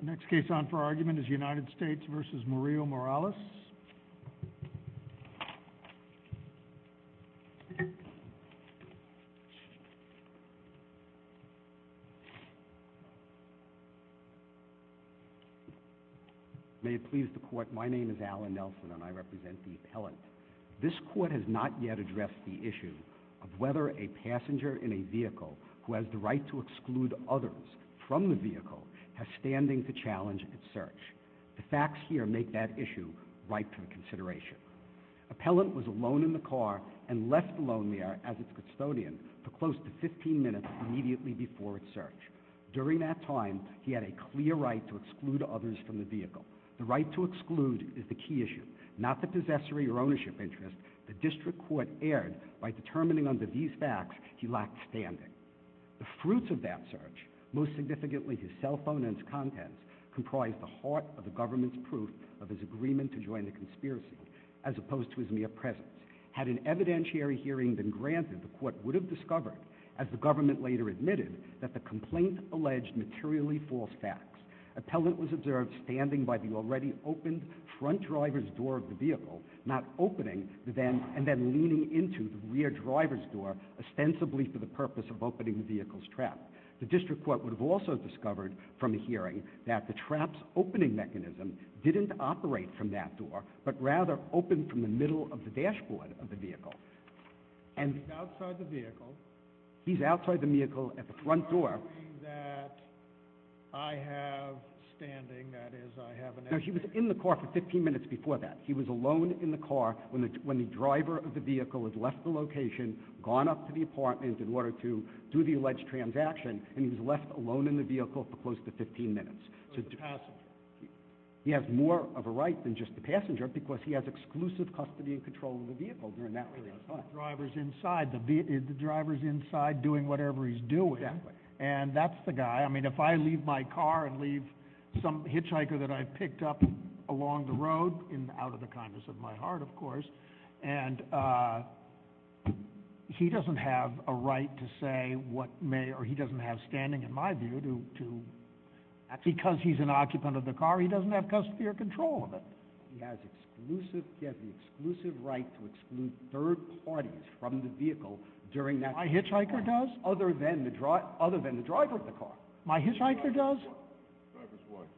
The next case on for argument is United States v. Murillo-Morales. May it please the court, my name is Alan Nelson and I represent the appellant. This court has not yet addressed the issue of whether a passenger in a vehicle who has the right to exclude others from the vehicle has standing to challenge its search. The facts here make that issue ripe for consideration. Appellant was alone in the car and left alone there as its custodian for close to 15 minutes immediately before its search. During that time, he had a clear right to exclude others from the vehicle. The right to exclude is the key issue, not the possessory or ownership interest the district court erred by determining under these facts he lacked standing. The fruits of that search, most significantly his cell phone and its contents, comprised the heart of the government's proof of his agreement to join the conspiracy, as opposed to his mere presence. Had an evidentiary hearing been granted, the court would have discovered, as the government later admitted, that the complaint alleged materially false facts. Appellant was observed standing by the already opened front driver's door of the vehicle, not opening and then leaning into the rear driver's door, ostensibly for the purpose of opening the vehicle's trap. The district court would have also discovered from the hearing that the trap's opening mechanism didn't operate from that door, but rather opened from the middle of the dashboard of the vehicle. And... He's outside the vehicle. He's outside the vehicle at the front door. He's arguing that I have standing, that is, I have an evidentiary... No, he was in the car for 15 minutes before that. He was alone in the car when the driver of the vehicle had left the location, gone up to the apartment in order to do the alleged transaction, and he was left alone in the vehicle for close to 15 minutes. He has more of a right than just the passenger, because he has exclusive custody and control of the vehicle during that period of time. The driver's inside, the driver's inside doing whatever he's doing. And that's the guy. I mean, if I leave my car and leave some hitchhiker that I've picked up along the road, out of kindness of my heart, of course, and he doesn't have a right to say what may, or he doesn't have standing, in my view, to... Because he's an occupant of the car, he doesn't have custodial control of it. He has exclusive, he has the exclusive right to exclude third parties from the vehicle during that... My hitchhiker does? Other than the driver of the car. My hitchhiker does? Driver's what? Driver's what?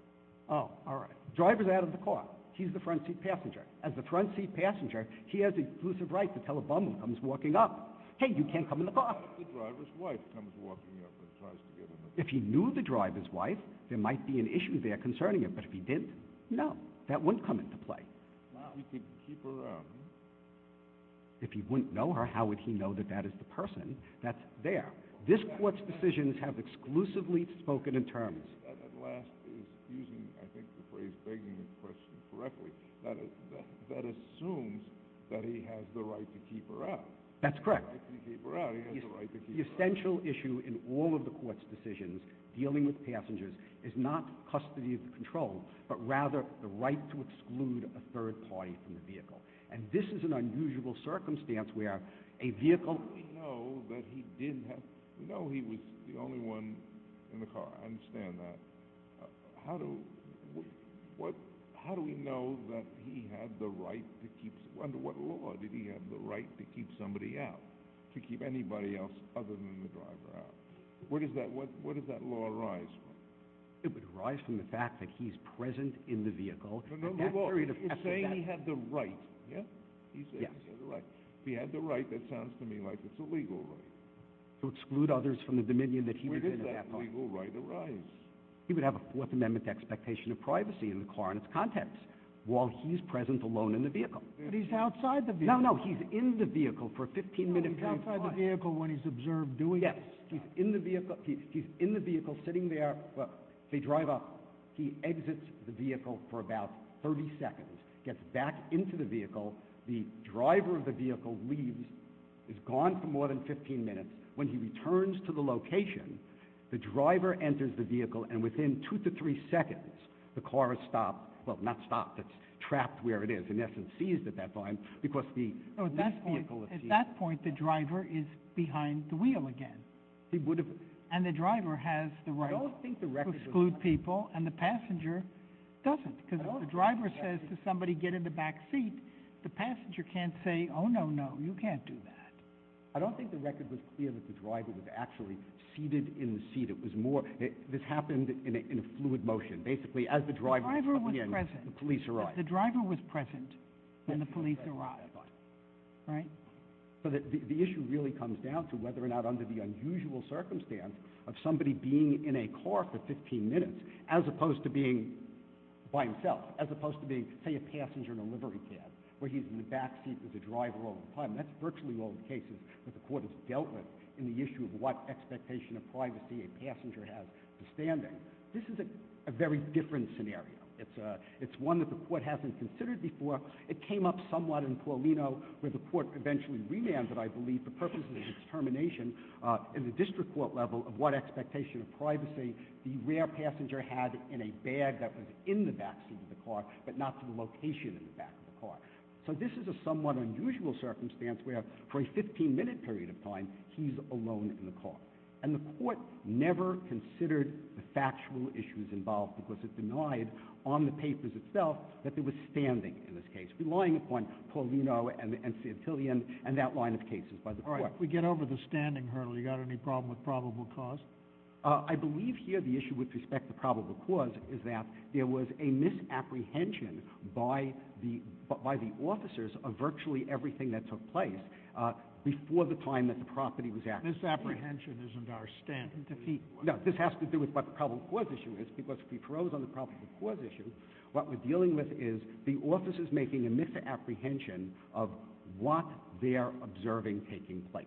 Oh, all right. Driver's out of the car. He's the front seat passenger. As the front seat passenger, he has the exclusive right to tell a bum who comes walking up, hey, you can't come in the car. What if the driver's wife comes walking up and tries to get in the car? If he knew the driver's wife, there might be an issue there concerning it. But if he didn't, no. That wouldn't come into play. Wow. He could keep her around, huh? If he wouldn't know her, how would he know that that is the person that's there? This court's decisions have exclusively spoken in terms... That at last is using, I think, the phrase begging the question correctly. That assumes that he has the right to keep her out. That's correct. He has the right to keep her out. He has the right to keep her out. The essential issue in all of the court's decisions dealing with passengers is not custody of the control, but rather the right to exclude a third party from the vehicle. And this is an unusual circumstance where a vehicle... We know that he didn't have... We know he was the only one in the car. I understand that. How do we know that he had the right to keep... Under what law did he have the right to keep somebody out? To keep anybody else other than the driver out? Where does that law arise from? It would arise from the fact that he's present in the vehicle. No, no, no. He's saying he had the right. Yeah? He's saying he had the right. If he had the right, that sounds to me like it's a legal right. To exclude others from the dominion that he was in at that point. That's a legal right arise. He would have a Fourth Amendment expectation of privacy in the car and its contents while he's present alone in the vehicle. But he's outside the vehicle. No, no. He's in the vehicle for a 15-minute period of time. No, he's outside the vehicle when he's observed doing it. Yes. He's in the vehicle. He's in the vehicle sitting there. They drive up. He exits the vehicle for about 30 seconds, gets back into the vehicle. The driver of the vehicle leaves, is gone for more than 15 minutes. When he returns to the location, the driver enters the vehicle, and within two to three seconds, the car is stopped. Well, not stopped. It's trapped where it is. In essence, seized at that time, because the vehicle is seized. At that point, the driver is behind the wheel again. And the driver has the right to exclude people, and the passenger doesn't. Because if the driver says to somebody, get in the back seat, the passenger can't say, oh, no, no. You can't do that. I don't think the record was clear that the driver was actually seated in the seat. It was more, this happened in a fluid motion. Basically, as the driver was coming in, the police arrived. The driver was present, and the police arrived. Right? So the issue really comes down to whether or not, under the unusual circumstance of somebody being in a car for 15 minutes, as opposed to being by himself, as opposed to being, say, a passenger in a livery cab, where he's in the back seat with the driver all the time. That's virtually all the cases that the court has dealt with in the issue of what expectation of privacy a passenger has for standing. This is a very different scenario. It's one that the court hasn't considered before. It came up somewhat in Paulino, where the court eventually remanded, I believe, the purpose of the determination in the district court level of what expectation of privacy the rear passenger had in a bag that was in the back seat of the car, but not to the location in the back of the car. So this is a somewhat unusual circumstance where, for a 15-minute period of time, he's alone in the car. And the court never considered the factual issues involved because it denied on the papers itself that there was standing in this case, relying upon Paulino and Santillan and that line of cases by the court. All right. If we get over the standing hurdle, you got any problem with probable cause? I believe here the issue with respect to probable cause is that there was a misapprehension by the officers of virtually everything that took place before the time that the property was acted on. Misapprehension isn't our stand. No, this has to do with what the probable cause issue is because if we froze on the probable cause issue, what we're dealing with is the officers making a misapprehension of what they're observing taking place.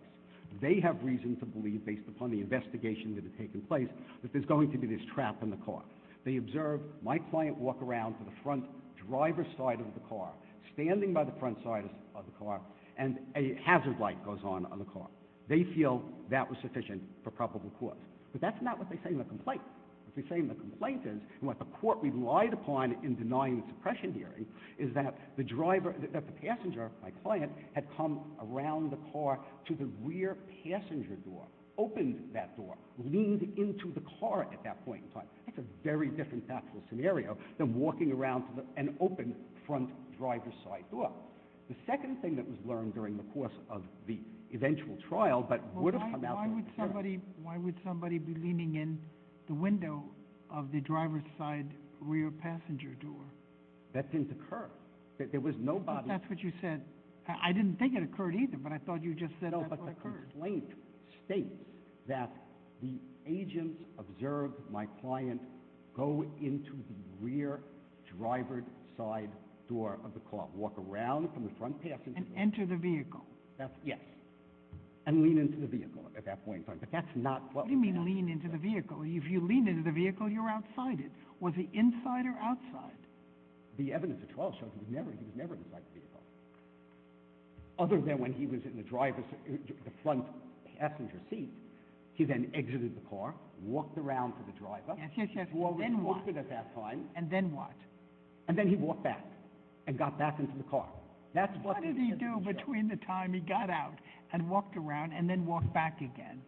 They have reason to believe, based upon the investigation that had taken place, that there's going to be this trap in the car. They observe my client walk around to the front driver's side of the car, standing by the front side of the car, and a hazard light goes on on the car. They feel that was sufficient for probable cause. But that's not what they say in the complaint. What they say in the complaint is, and what the court relied upon in denying the suppression hearing, is that the driver, that the passenger, my client, had come around the car to the rear passenger door, opened that door, leaned into the car at that point in time. That's a very different tactical scenario than walking around to an open front driver's side door. The second thing that was learned during the course of the eventual trial, but would have come out... Why would somebody be leaning in the window of the driver's side rear passenger door? That didn't occur. There was nobody... But that's what you said. I didn't think it occurred either, but I thought you just said that's what occurred. The complaint states that the agents observed my client go into the rear driver's side door of the car, walk around from the front passenger... And enter the vehicle. Yes. And lean into the vehicle at that point in time. But that's not... What do you mean lean into the vehicle? If you lean into the vehicle, you're outside it. Was he inside or outside? The evidence at trial showed he was never inside the vehicle. Other than when he was in the front passenger seat, he then exited the car, walked around to the driver... Yes, yes, yes. And then what? And then he walked back and got back into the car. What did he do between the time he got out and walked around and then walked back again?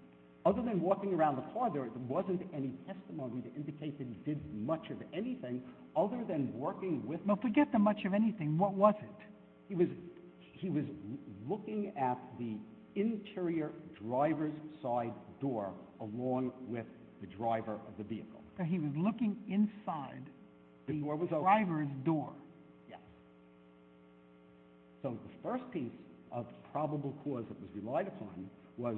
Other than walking around the car, there wasn't any testimony to indicate that he did much of anything other than working with... Forget the much of anything. What was it? He was looking at the interior driver's side door along with the driver of the vehicle. So he was looking inside the driver's door? Yes. So the first piece of probable cause that was relied upon was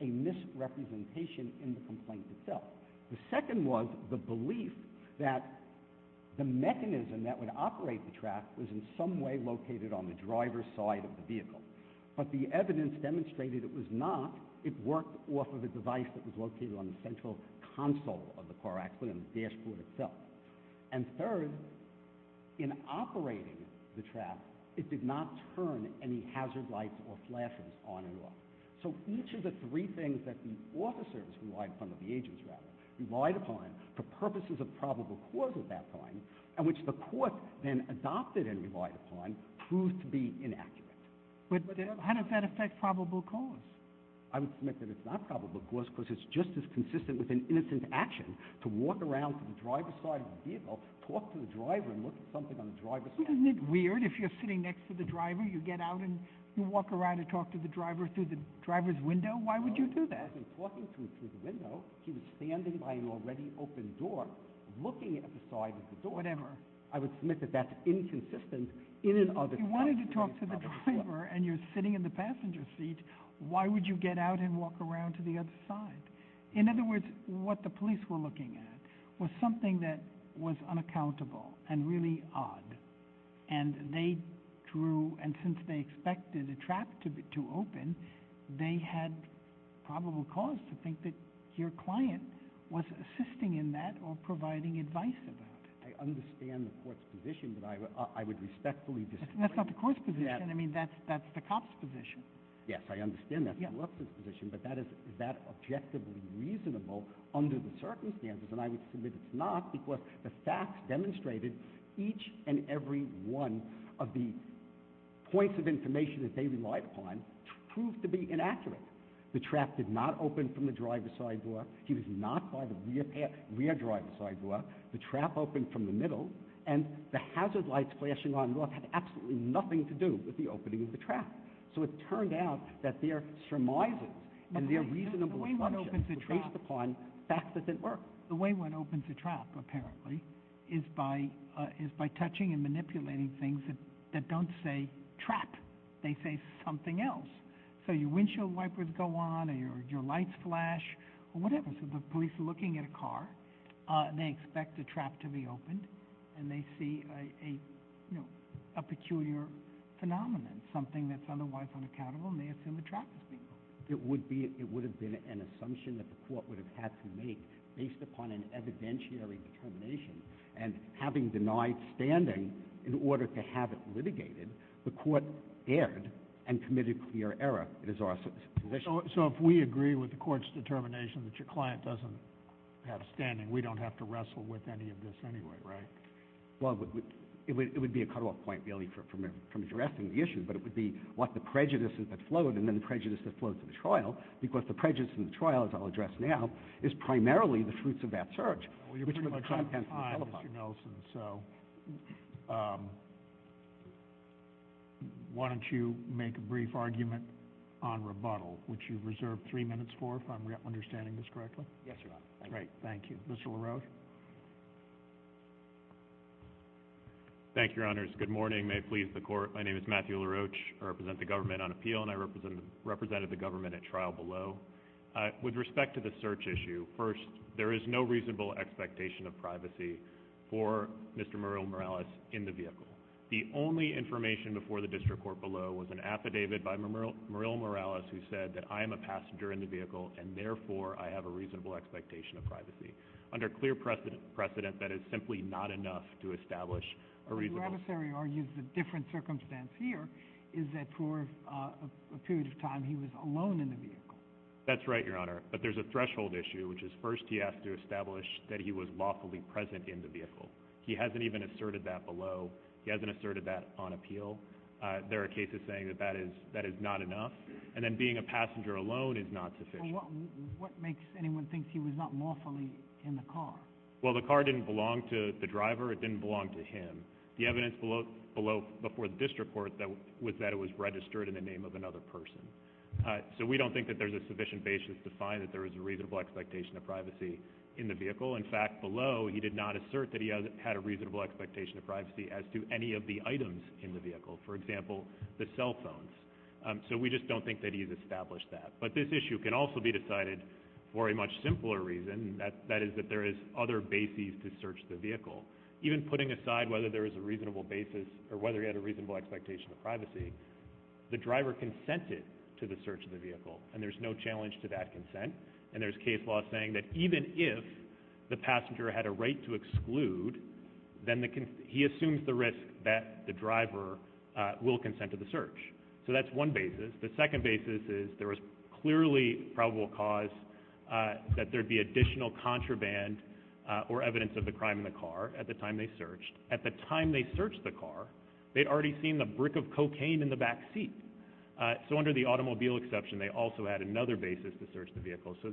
a misrepresentation in the complaint itself. The second was the belief that the mechanism that would operate the track was in some way located on the driver's side of the vehicle. But the evidence demonstrated it was not. It worked off of a device that was located on the central console of the car actually and the dashboard itself. And third, in operating the track, it did not turn any hazard lights or flashes on and off. So each of the three things that the officers relied upon, or the agents rather, relied upon for purposes of probable cause at that time, and which the court then adopted and proved to be inaccurate. How does that affect probable cause? I would submit that it's not probable cause because it's just as consistent with an innocent action to walk around to the driver's side of the vehicle, talk to the driver and look at something on the driver's side of the vehicle. Isn't it weird if you're sitting next to the driver, you get out and you walk around and talk to the driver through the driver's window? Why would you do that? No, he wasn't talking to him through the window. He was standing by an already open door, looking at the side of the door. Whatever. I would submit that that's inconsistent in and of itself. If you wanted to talk to the driver and you're sitting in the passenger seat, why would you get out and walk around to the other side? In other words, what the police were looking at was something that was unaccountable and really odd. And they drew, and since they expected a trap to open, they had probable cause to think that your client was assisting in that or providing advice about it. I understand the court's position, but I would respectfully disagree. That's not the court's position. I mean, that's the cop's position. Yes, I understand that's the police's position, but is that objectively reasonable under the circumstances? And I would submit it's not because the facts demonstrated each and every one of the points of information that they relied upon proved to be inaccurate. The trap did not open from the driver's side door. He was not by the rear driver's side door. The trap opened from the middle, and the hazard lights flashing on and off had absolutely nothing to do with the opening of the trap. So it turned out that their surmises and their reasonable assumptions were based upon facts that didn't work. The way one opens a trap, apparently, is by touching and manipulating things that don't say trap. They say something else. So your windshield wipers go on, or your lights flash, or whatever. So the police are looking at a car. They expect the trap to be opened, and they see a peculiar phenomenon, something that's otherwise unaccountable, and they assume the trap is being opened. It would have been an assumption that the court would have had to make based upon an evidentiary determination, and having denied standing in order to have it litigated, the court erred and committed clear error. It is our position. So if we agree with the court's determination that your client doesn't have standing, we don't have to wrestle with any of this anyway, right? Well, it would be a cut-off point, really, from addressing the issue, but it would be what the prejudice that flowed, and then the prejudice that flowed to the trial, because the prejudice in the trial, as I'll address now, is primarily the fruits of that search. Well, you're pretty much out of time, Mr. Nelson, so why don't you make a brief argument on rebuttal, which you've reserved three minutes for, if I'm understanding this correctly? Yes, Your Honor. Great. Thank you. Mr. LaRoche? Thank you, Your Honors. Good morning. May it please the Court. My name is Matthew LaRoche. I represent the government on appeal, and I represented the government at trial below. With respect to the search issue, first, there is no reasonable expectation of privacy for Mr. Muriel Morales in the vehicle. The only information before the District Court below was an affidavit by Muriel Morales who said that, I am a passenger in the vehicle, and therefore, I have a reasonable expectation of privacy. Under clear precedent, that is simply not enough to establish a reasonable... But your adversary argues a different circumstance here, is that for a period of time, he was alone in the vehicle. That's right, Your Honor. But there's a threshold issue, which is, first, he has to establish that he was lawfully present in the vehicle. He hasn't even asserted that below. He hasn't asserted that on appeal. There are cases saying that that is not enough, and then being a passenger alone is not sufficient. But what makes anyone think he was not lawfully in the car? Well, the car didn't belong to the driver. It didn't belong to him. The evidence below before the District Court was that it was registered in the name of another person. So we don't think that there's a sufficient basis to find that there is a reasonable expectation of privacy in the vehicle. In fact, below, he did not assert that he had a reasonable expectation of privacy as to any of the items in the vehicle, for example, the cell phones. So we just don't think that he's established that. But this issue can also be decided for a much simpler reason, and that is that there is other bases to search the vehicle. Even putting aside whether there is a reasonable basis or whether he had a reasonable expectation of privacy, the driver consented to the search of the vehicle, and there's no challenge to that consent. And there's case law saying that even if the passenger had a right to exclude, then he assumes the risk that the driver will consent to the search. So that's one basis. The second basis is there was clearly probable cause that there'd be additional contraband or evidence of the crime in the car at the time they searched. At the time they searched the car, they'd already seen the brick of cocaine in the back seat. So under the automobile exception, they also had another basis to search the vehicle. So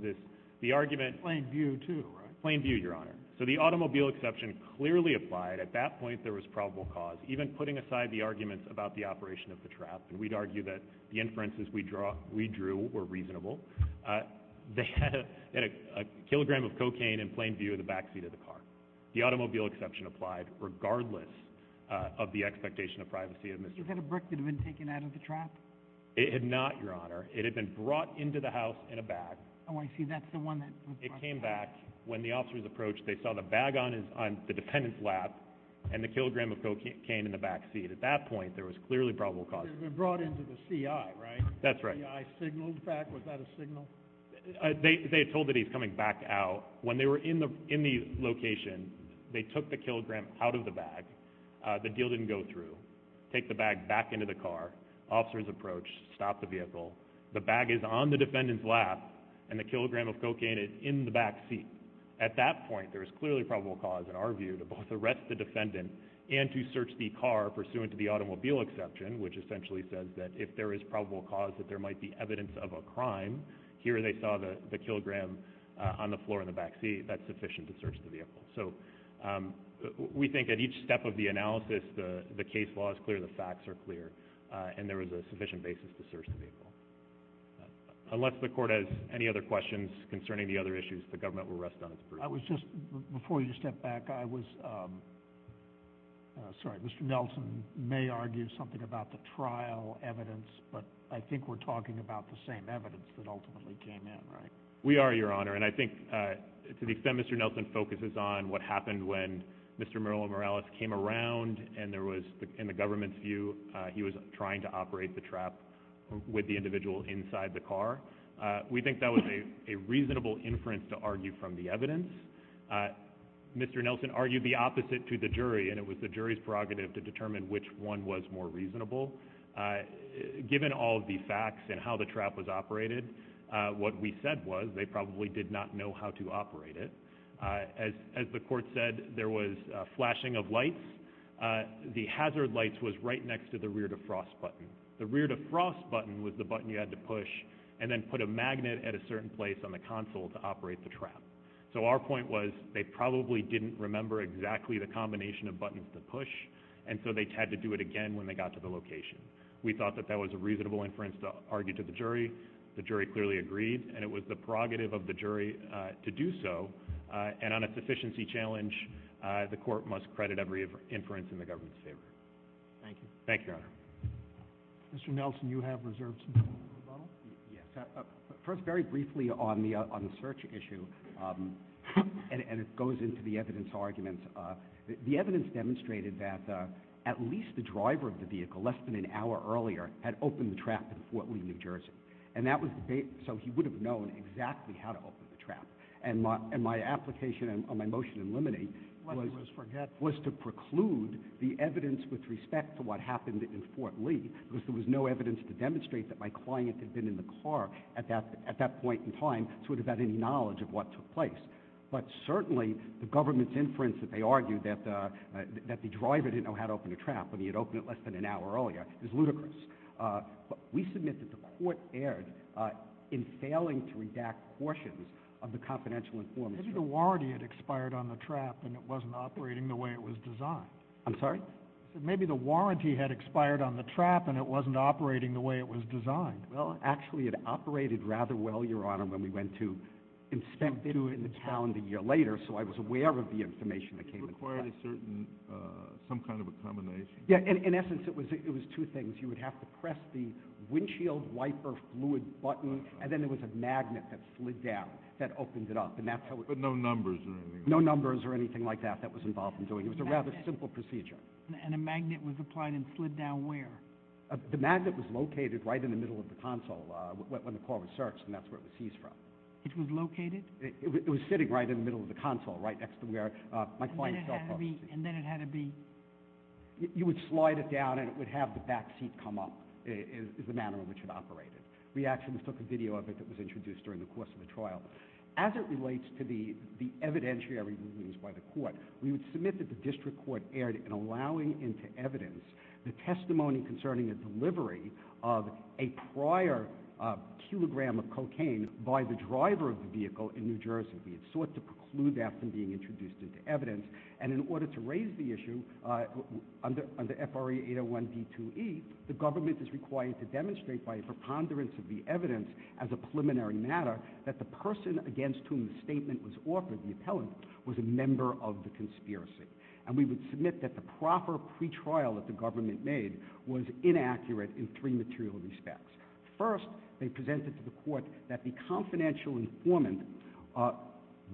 the argument... Plain view, too, right? Plain view, Your Honor. So the automobile exception clearly applied. At that point, there was probable cause. Even putting aside the arguments about the operation of the trap, we'd argue that the inferences we drew were reasonable. They had a kilogram of cocaine in plain view of the back seat of the car. The automobile exception applied regardless of the expectation of privacy of Mr... Was that a brick that had been taken out of the trap? It had not, Your Honor. It had been brought into the house in a bag. Oh, I see. That's the one that... It came back. When the officers approached, they saw the bag on the defendant's lap and the kilogram of cocaine in the back seat. At that point, there was clearly probable cause. It had been brought into the CI, right? That's right. The CI signaled back. Was that a signal? They had told that he was coming back out. When they were in the location, they took the kilogram out of the bag. The deal didn't go through. They took the bag back into the car. Officers approached, stopped the vehicle. The bag is on the defendant's lap, and the kilogram of cocaine is in the back seat. At that point, there was clearly probable cause in our view to both arrest the defendant and to search the car pursuant to the automobile exception, which essentially says that if there is probable cause that there might be evidence of a crime, here they saw the kilogram on the floor in the back seat. That's sufficient to search the vehicle. We think at each step of the analysis, the case law is clear, the facts are clear, and there is a sufficient basis to search the vehicle. Unless the court has any other questions concerning the other issues, the government will rest on its approval. Before you step back, Mr. Nelson may argue something about the trial evidence, but I think we're talking about the same evidence that ultimately came in, right? We are, Your Honor. And I think to the extent Mr. Nelson focuses on what happened when Mr. Merlo Morales came around, and there was, in the government's view, he was trying to operate the trap with the individual inside the car, we think that was a reasonable inference to argue from the evidence. Mr. Nelson argued the opposite to the jury, and it was the jury's prerogative to determine which one was more reasonable. Given all of the facts and how the trap was operated, what we said was they probably did not know how to operate it. As the court said, there was flashing of lights. The hazard lights was right next to the rear defrost button. The rear defrost button was the button you had to push and then put a magnet at a certain place on the console to operate the trap. So our point was they probably didn't remember exactly the combination of buttons to push, and so they had to do it again when they got to the location. We thought that that was a reasonable inference to argue to the jury. The jury clearly agreed, and it was the prerogative of the jury to do so. And on a sufficiency challenge, the court must credit every inference in the government's favor. Thank you. Thank you, Your Honor. Mr. Nelson, you have reserved some time for rebuttal. Yes. First, very briefly on the search issue, and it goes into the evidence argument. The evidence demonstrated that at least the driver of the vehicle, less than an hour earlier, had opened the trap in Fort Lee, New Jersey. So he would have known exactly how to open the trap. And my application on my motion in limine was to preclude the evidence with respect to what happened in Fort Lee, because there was no evidence to demonstrate that my client had been in the car at that point in time so he would have had any knowledge of what took place. But certainly, the government's inference that they argued that the driver didn't know how to open the trap, and he had opened it less than an hour earlier, is ludicrous. But we submit that the court erred in failing to redact portions of the confidential information. Maybe the warranty had expired on the trap, and it wasn't operating the way it was designed. I'm sorry? I said, maybe the warranty had expired on the trap, and it wasn't operating the way it was designed. Well, actually, it operated rather well, Your Honor, when we went to and spent video in the calendar a year later, so I was aware of the information that came in. Did it require some kind of a combination? Yeah, in essence, it was two things. You would have to press the windshield wiper fluid button, and then there was a magnet that slid down that opened it up. But no numbers or anything like that? No numbers or anything like that that was involved in doing it. It was a rather simple procedure. And a magnet was applied and slid down where? The magnet was located right in the middle of the console when the car was searched, and that's where it was seized from. It was located? It was sitting right in the middle of the console, right next to where my client fell asleep. And then it had to be? You would slide it down, and it would have the back seat come up is the manner in which it operated. We actually took a video of it that was introduced during the course of the trial. As it relates to the evidentiary rulings by the court, we would submit that the district court erred in allowing into evidence the testimony concerning a delivery of a prior kilogram of cocaine by the driver of the vehicle in New Jersey. We had sought to preclude that from being introduced into evidence. And in order to raise the issue, under FRA 801b2e, the government is required to demonstrate by a preponderance of the evidence as a preliminary matter that the person against whom the statement was offered, the appellant, was a member of the conspiracy. And we would submit that the proper pretrial that the government made was inaccurate in three material respects. First, they presented to the court that the confidential informant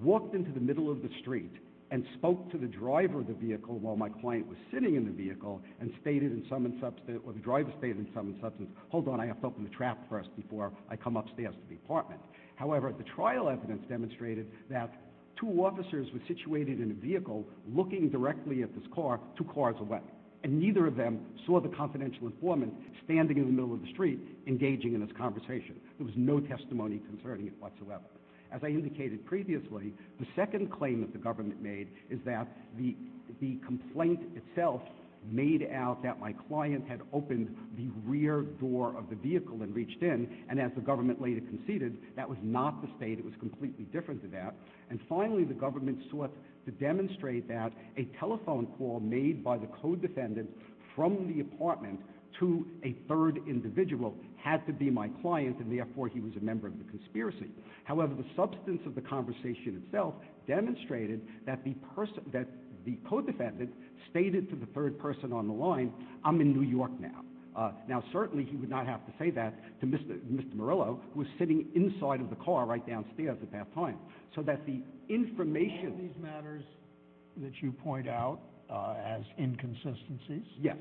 walked into the middle of the street and spoke to the driver of the vehicle while my client was sitting in the vehicle and stated in some substance, or the driver stated in some substance, hold on, I have to open the trap first before I come upstairs to the apartment. However, the trial evidence demonstrated that two officers were situated in a vehicle looking directly at this car two cars away, and neither of them saw the confidential informant standing in the middle of the street engaging in this conversation. There was no testimony concerning it whatsoever. As I indicated previously, the second claim that the government made is that the complaint itself made out that my client had opened the rear door of the vehicle and reached in, and as the government later conceded, that was not the state. It was completely different to that. And finally, the government sought to demonstrate that a telephone call made by the co-defendant from the apartment to a third individual had to be my client, and therefore he was a member of the conspiracy. However, the substance of the conversation itself demonstrated that the co-defendant stated to the third person on the line, I'm in New York now. Now certainly he would not have to say that to Mr. Morello, who was sitting inside of the car right downstairs at that time. So that the information... That you point out as inconsistencies. Yes.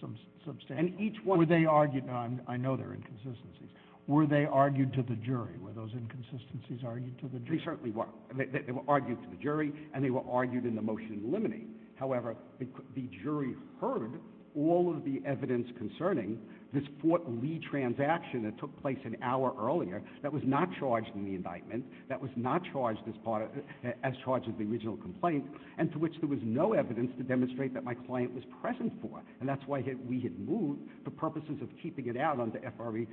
Some substantial. And each one... Were they argued... I know they're inconsistencies. Were they argued to the jury? Were those inconsistencies argued to the jury? They certainly were. They were argued to the jury, and they were argued in the motion limiting. However, the jury heard all of the evidence concerning this Fort Lee transaction that took place an hour earlier that was not charged in the indictment, that was not charged as the original complaint, and to which there was no evidence to demonstrate that my client was present for. And that's why we had moved, for purposes of keeping it out under FRE...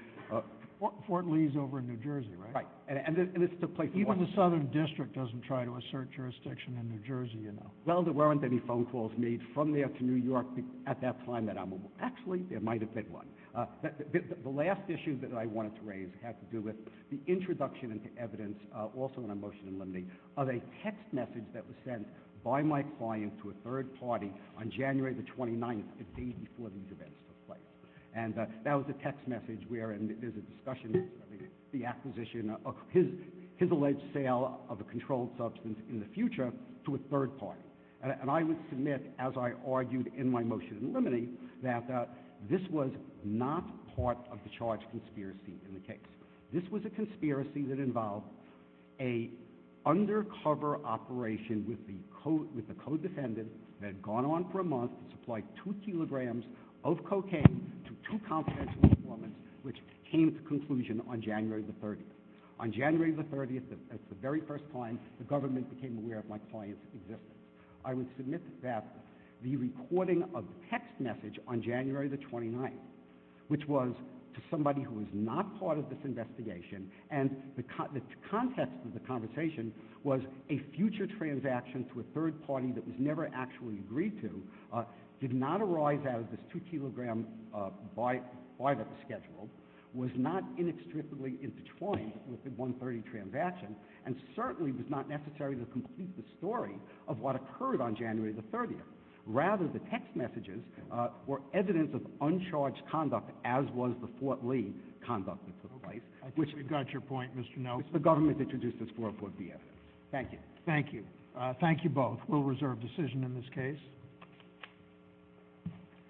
Fort Lee's over in New Jersey, right? Right. And this took place... Even the Southern District doesn't try to assert jurisdiction in New Jersey, you know. Well, there weren't any phone calls made from there to New York at that time that I moved. Actually, there might have been one. The last issue that I wanted to raise had to do with the introduction into evidence, also in my motion limiting, of a text message that was sent by my client to a third party on January the 29th, the day before these events took place. And that was a text message wherein there's a discussion of the acquisition of his alleged sale of a controlled substance in the future to a third party. And I would submit, as I argued in my motion limiting, that this was not part of the charge conspiracy in the case. This was a conspiracy that involved an undercover operation with the co-defendant that had gone on for a month and supplied two kilograms of cocaine to two confidential informants, which came to conclusion on January the 30th. On January the 30th, that's the very first time the government became aware of my client's existence. I would submit that the recording of the text message on January the 29th, which was to the investigation, and the context of the conversation was a future transaction to a third party that was never actually agreed to, did not arise out of this two kilogram buy that was scheduled, was not inextricably intertwined with the 130 transaction, and certainly was not necessary to complete the story of what occurred on January the 30th. Rather, the text messages were evidence of uncharged conduct, as was the Fort Lee conduct to the right. I think we've got your point, Mr. Knowles. The government introduced this for a court of evidence. Thank you. Thank you. Thank you both. We'll reserve decision in this case.